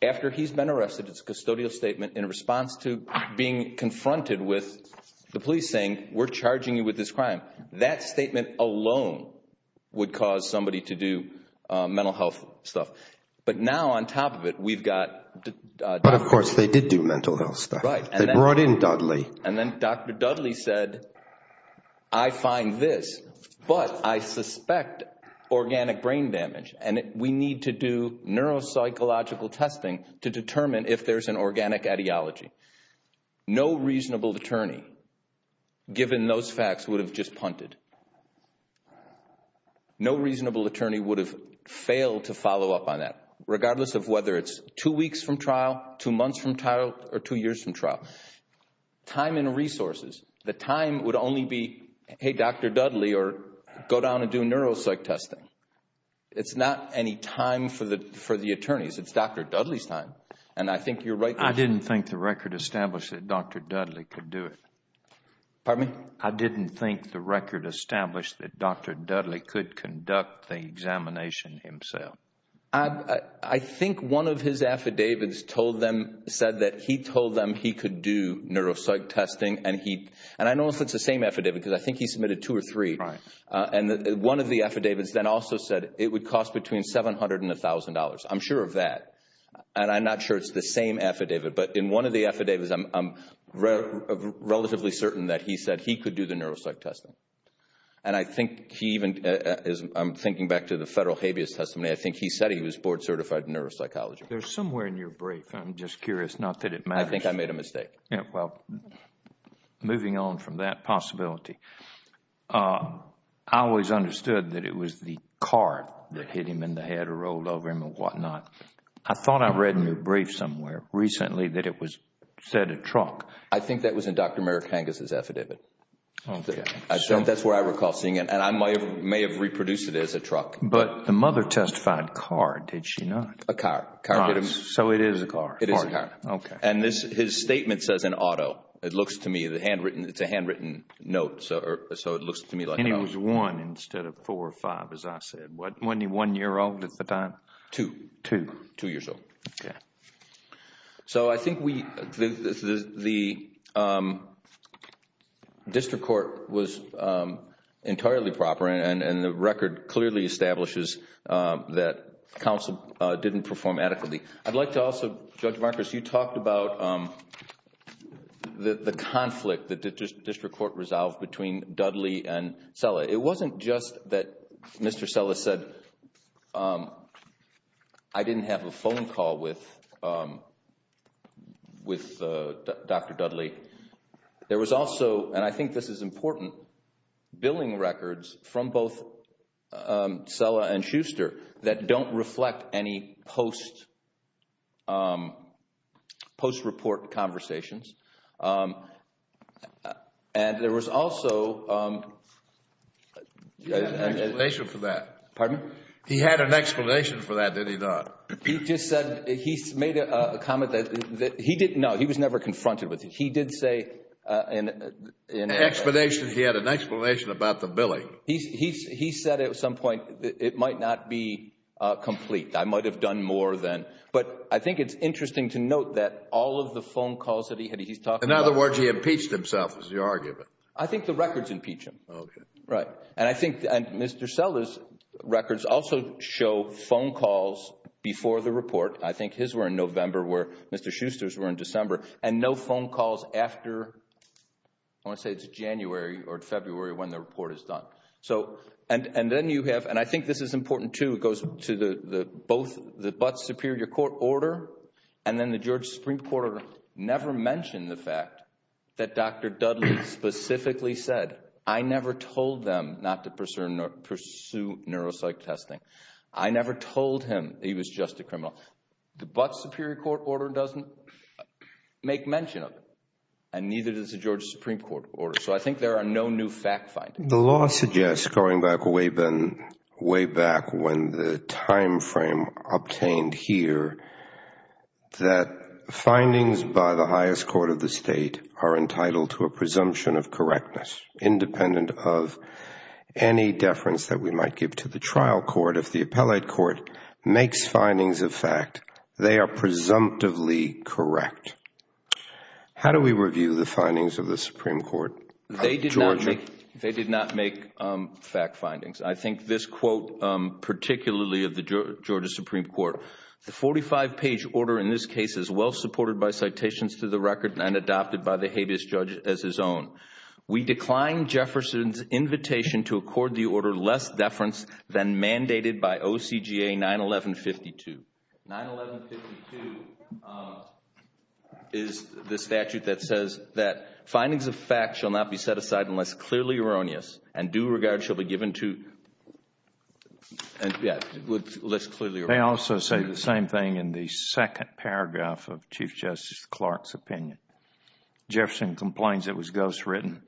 after he's been arrested, it's a custodial statement in response to being confronted with the police saying, we're charging you with this crime. That statement alone would cause somebody to do mental health stuff. But now, on top of it, we've got Dr. Dudley. But of course, they did do mental health stuff. They brought in Dudley. And then Dr. Dudley said, I find this, but I suspect organic brain damage, and we need to do neuropsychological testing to determine if there's an organic ideology. No reasonable attorney, given those facts, would have just punted. No reasonable attorney would have failed to follow up on that, regardless of whether it's two weeks from trial, two months from trial, or two years from trial. Time and resources. The time would only be, hey, Dr. Dudley, or go down and do neuropsych testing. It's not any time for the attorneys. It's Dr. Dudley's time. And I think you're right. I didn't think the record established that Dr. Dudley could do it. Pardon me? I didn't think the record established that Dr. Dudley could conduct the examination himself. I think one of his affidavits told them, said that he told them he could do neuropsych testing, and I don't know if it's the same affidavit, because I think he submitted two or three. And one of the affidavits then also said it would cost between $700 and $1,000. I'm sure of that. And I'm not sure it's the same affidavit. But in one of the affidavits, I'm relatively certain that he said he could do the neuropsych testing. And I think he even, I'm thinking back to the Federal Habeas Testimony, I think he said he was board certified in neuropsychology. There's somewhere in your brief, I'm just curious, not that it matters. I think I made a mistake. Well, moving on from that possibility, I always understood that it was the car that hit him in the head or rolled over him and whatnot. I thought I read in your brief somewhere recently that it was said a truck. I think that was in Dr. Merrick Hange's affidavit. That's where I recall seeing it. And I may have reproduced it as a truck. But the mother testified car, did she not? A car. Car hit him. So it is a car. It is a car. Okay. And his statement says an auto. It looks to me, it's a handwritten note. So it looks to me like an auto. And it was one instead of four or five, as I said. Wasn't he one year old at the time? Two. Two. Two years old. Okay. So I think the district court was entirely proper and the record clearly establishes that counsel didn't perform adequately. I'd like to also, Judge Marcus, you talked about the conflict that the district court resolved between Dudley and Sella. It wasn't just that Mr. Sella said, I didn't have a phone call with Dr. Dudley. There was also, and I think this is important, billing records from both Sella and Schuster that don't reflect any post report conversations. And there was also. He had an explanation for that. Pardon? He had an explanation for that, did he not? He just said, he made a comment that he didn't know. He was never confronted with it. He did say. An explanation. He had an explanation about the billing. He said at some point, it might not be complete. I might have done more than. But I think it's interesting to note that all of the phone calls that he had, he's talking about. In other words, he impeached himself, is the argument. I think the records impeach him. Okay. Right. And I think Mr. Sella's records also show phone calls before the report. I think his were in November where Mr. Schuster's were in December. And no phone calls after, I want to say it's January or February when the report is done. So, and then you have, and I think this is important too. It goes to the, both the Butts Superior Court order and then the George Supreme Court never mentioned the fact that Dr. Dudley specifically said, I never told them not to pursue neuropsych testing. I never told him he was just a criminal. The Butts Superior Court order doesn't make mention of it and neither does the George Supreme Court order. So, I think there are no new fact findings. The law suggests, going back way back when the time frame obtained here, that findings by the highest court of the state are entitled to a presumption of correctness, independent of any deference that we might give to the trial court. If the appellate court makes findings of fact, they are presumptively correct. How do we review the findings of the Supreme Court of Georgia? They did not make fact findings. I think this quote, particularly of the Georgia Supreme Court, the 45-page order in this case is well supported by citations to the record and adopted by the habeas judge as his own. We decline Jefferson's invitation to accord the order less deference than mandated by OCGA 911.52. 911.52 is the statute that says that findings of fact shall not be set aside unless clearly erroneous and due regard shall be given to less clearly erroneous. They also say the same thing in the second paragraph of Chief Justice Clark's opinion. Jefferson complains it was ghostwritten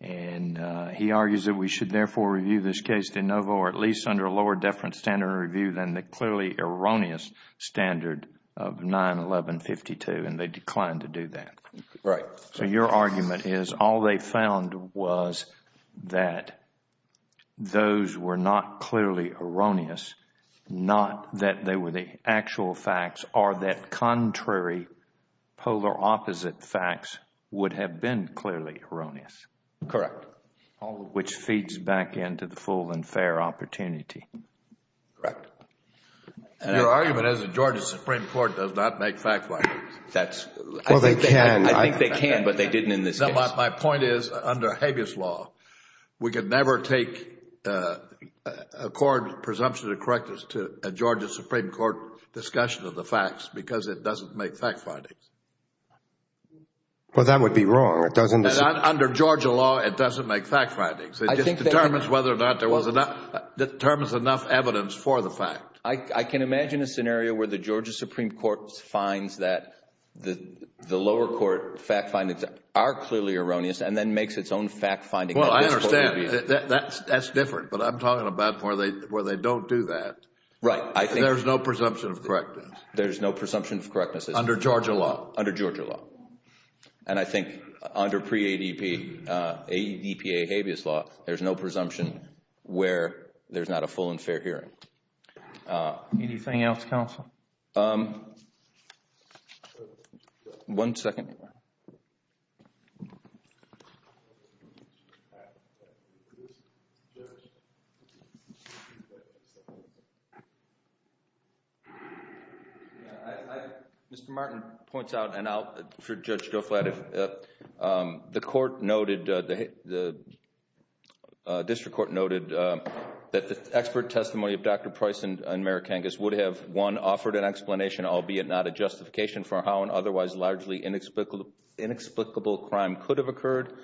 and he argues that we should therefore review this case de novo or at least under a lower deference standard review than the clearly erroneous standard of 911.52 and they declined to do that. Your argument is all they found was that those were not clearly erroneous, not that they were the actual facts or that contrary polar opposite facts would have been clearly erroneous. Correct. All of which feeds back into the full and fair opportunity. Correct. Your argument is the Georgia Supreme Court does not make fact findings. Well, they can. I think they can, but they didn't in this case. My point is under habeas law, we could never take a court presumption of correctness to a Georgia Supreme Court discussion of the facts because it doesn't make fact findings. Well, that would be wrong. Under Georgia law, it doesn't make fact findings. It just determines whether or not there was enough evidence for the fact. I can imagine a scenario where the Georgia Supreme Court finds that the lower court fact findings are clearly erroneous and then makes its own fact finding. Well, I understand. That's different, but I'm talking about where they don't do that. Right. There's no presumption of correctness. There's no presumption of correctness. Under Georgia law. Under Georgia law. And I think under pre-ADP, ADPA habeas law, there's no presumption where there's not a full and fair hearing. Anything else, counsel? One second. Mr. Martin points out, and I'll let Judge Goh flat it. The court noted, the district court noted that the expert testimony of Dr. Price and Mayor Kangas would have, one, offered an explanation, albeit not a justification for how an otherwise largely inexplicable crime could have occurred.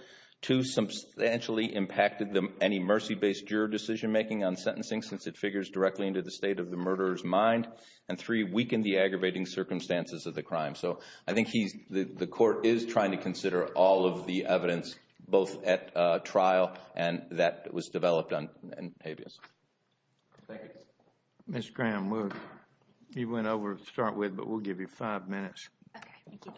Two, substantially impacted any mercy-based jury decision-making on sentencing since it figures directly into the state of the murderer's mind. And three, weakened the aggravating circumstances of the crime. So I think the court is trying to consider all of the evidence, both at trial and that was developed on habeas. Thank you. Ms. Graham, you went over to start with, but we'll give you five minutes. Okay. Thank you.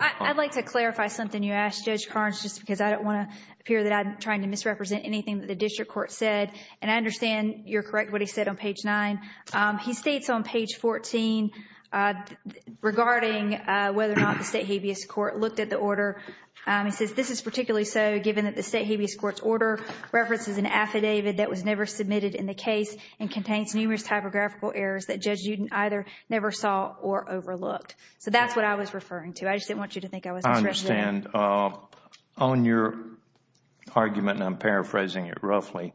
I'd like to clarify something you asked, Judge Carnes, just because I don't want to appear that I'm trying to misrepresent anything that the district court said. And I understand you're correct what he said on page nine. He states on page 14 regarding whether or not the state habeas court looked at the order. He says, this is particularly so given that the state habeas court's order references an affidavit that was never submitted in the case and contains numerous typographical errors that Judge Uden either never saw or overlooked. So that's what I was referring to. I just didn't want you to think I was misrepresenting. I understand. On your argument, and I'm paraphrasing it roughly,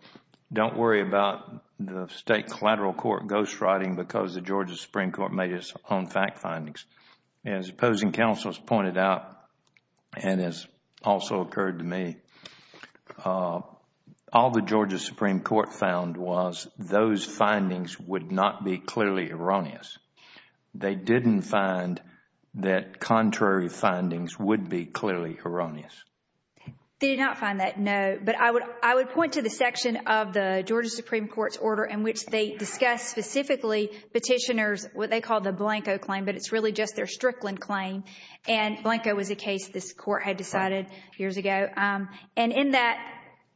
don't worry about the state collateral court ghostwriting because the Georgia Supreme Court made its own fact findings. As opposing counsel has pointed out and has also occurred to me, all the Georgia Supreme Court found was those findings would not be clearly erroneous. They didn't find that contrary findings would be clearly erroneous. They did not find that, no. But I would point to the section of the Georgia Supreme Court's order in which they discuss specifically petitioners, what they call the Blanco claim, but it's really just their Strickland claim. And Blanco was a case this court had decided years ago. And in that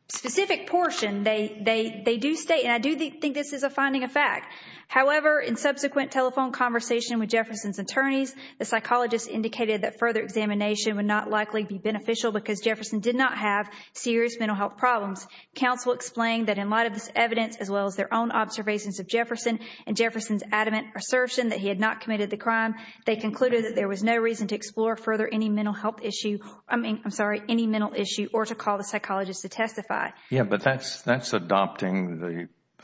specific portion, they do state, and I do think this is a finding of fact. However, in subsequent telephone conversation with Jefferson's attorneys, the psychologist indicated that further examination would not likely be beneficial because Jefferson did not have serious mental health problems. Counsel explained that in light of this evidence, as well as their own observations of Jefferson and Jefferson's adamant assertion that he had not committed the crime, they concluded that there was no reason to explore further any mental health issue, I mean, I'm sorry, any mental issue or to call the psychologist to testify. Yes, but that's adopting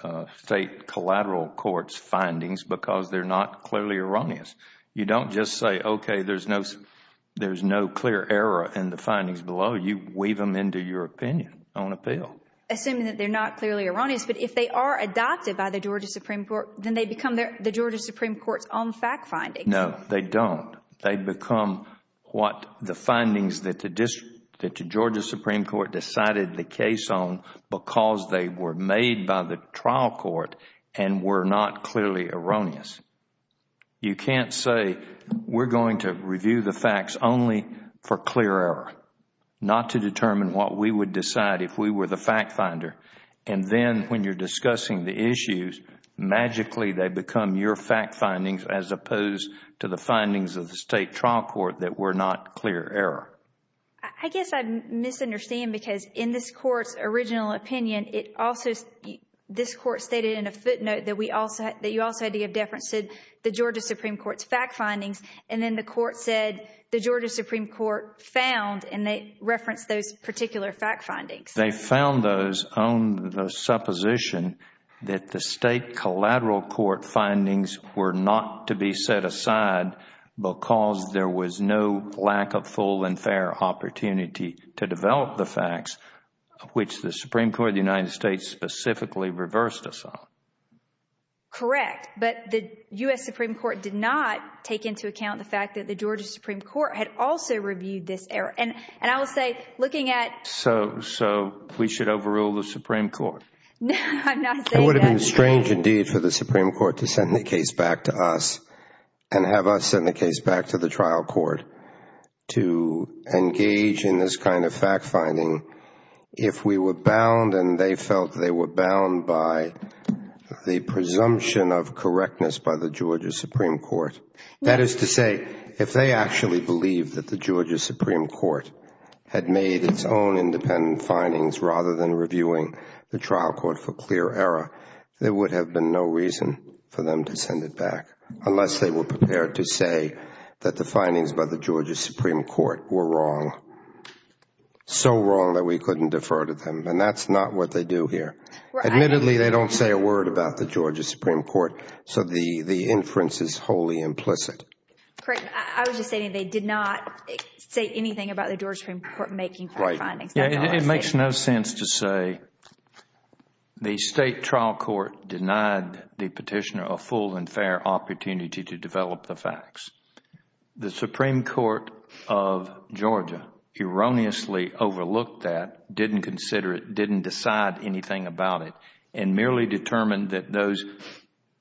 the state collateral court's findings because they're not clearly erroneous. You don't just say, okay, there's no clear error in the findings below. You weave them into your opinion on appeal. Assuming that they're not clearly erroneous, but if they are adopted by the Georgia Supreme Court, then they become the Georgia Supreme Court's own fact findings. No, they don't. They become what the findings that the Georgia Supreme Court decided the case on because they were made by the trial court and were not clearly erroneous. You can't say we're going to review the facts only for clear error, not to determine what we would decide if we were the fact finder. Then when you're discussing the issues, magically they become your fact findings as opposed to the findings of the state trial court that were not clear error. I guess I misunderstand because in this court's original opinion, this court stated in a footnote that you also had to give deference to the Georgia Supreme Court's fact findings and then the court said the Georgia Supreme Court found and they referenced those particular fact findings. They found those on the supposition that the state collateral court findings were not to be set aside because there was no lack of full and fair opportunity to develop the facts which the Supreme Court of the United States specifically reversed us on. Correct. But the U.S. Supreme Court did not take into account the fact that the Georgia Supreme Court had also reviewed this error. I will say looking at... So we should overrule the Supreme Court? No, I'm not saying that. It would have been strange indeed for the Supreme Court to send the case back to us and have us send the case back to the trial court to engage in this kind of fact finding if we were bound and they felt they were bound by the presumption of correctness by the Georgia Supreme Court. That is to say, if they actually believed that the Georgia Supreme Court had made its own independent findings rather than reviewing the trial court for clear error, there would have been no reason for them to send it back unless they were prepared to say that the findings by the Georgia Supreme Court were wrong, so wrong that we couldn't defer to them. And that's not what they do here. Admittedly, they don't say a word about the Georgia Supreme Court, so the inference is wholly implicit. Correct. I was just saying they did not say anything about the Georgia Supreme Court making fact findings. It makes no sense to say the state trial court denied the petitioner a full and fair opportunity to develop the facts. The Supreme Court of Georgia erroneously overlooked that, didn't consider it, didn't decide anything about it, and merely determined that those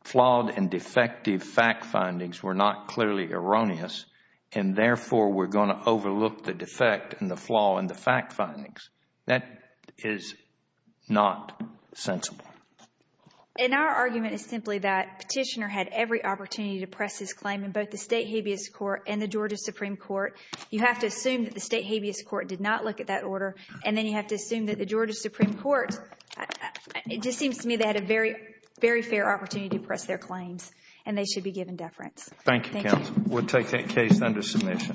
flawed and defective fact findings were not clearly erroneous and therefore were going to overlook the defect and the flaw in the fact findings. That is not sensible. And our argument is simply that petitioner had every opportunity to press his claim in both the state habeas court and the Georgia Supreme Court. You have to assume that the state habeas court did not look at that order and then you have to assume that the Georgia Supreme Court, it just seems to me they had a very, very fair opportunity to press their claims and they should be given deference. Thank you, counsel. We will take that case under submission. Thank you. All rise.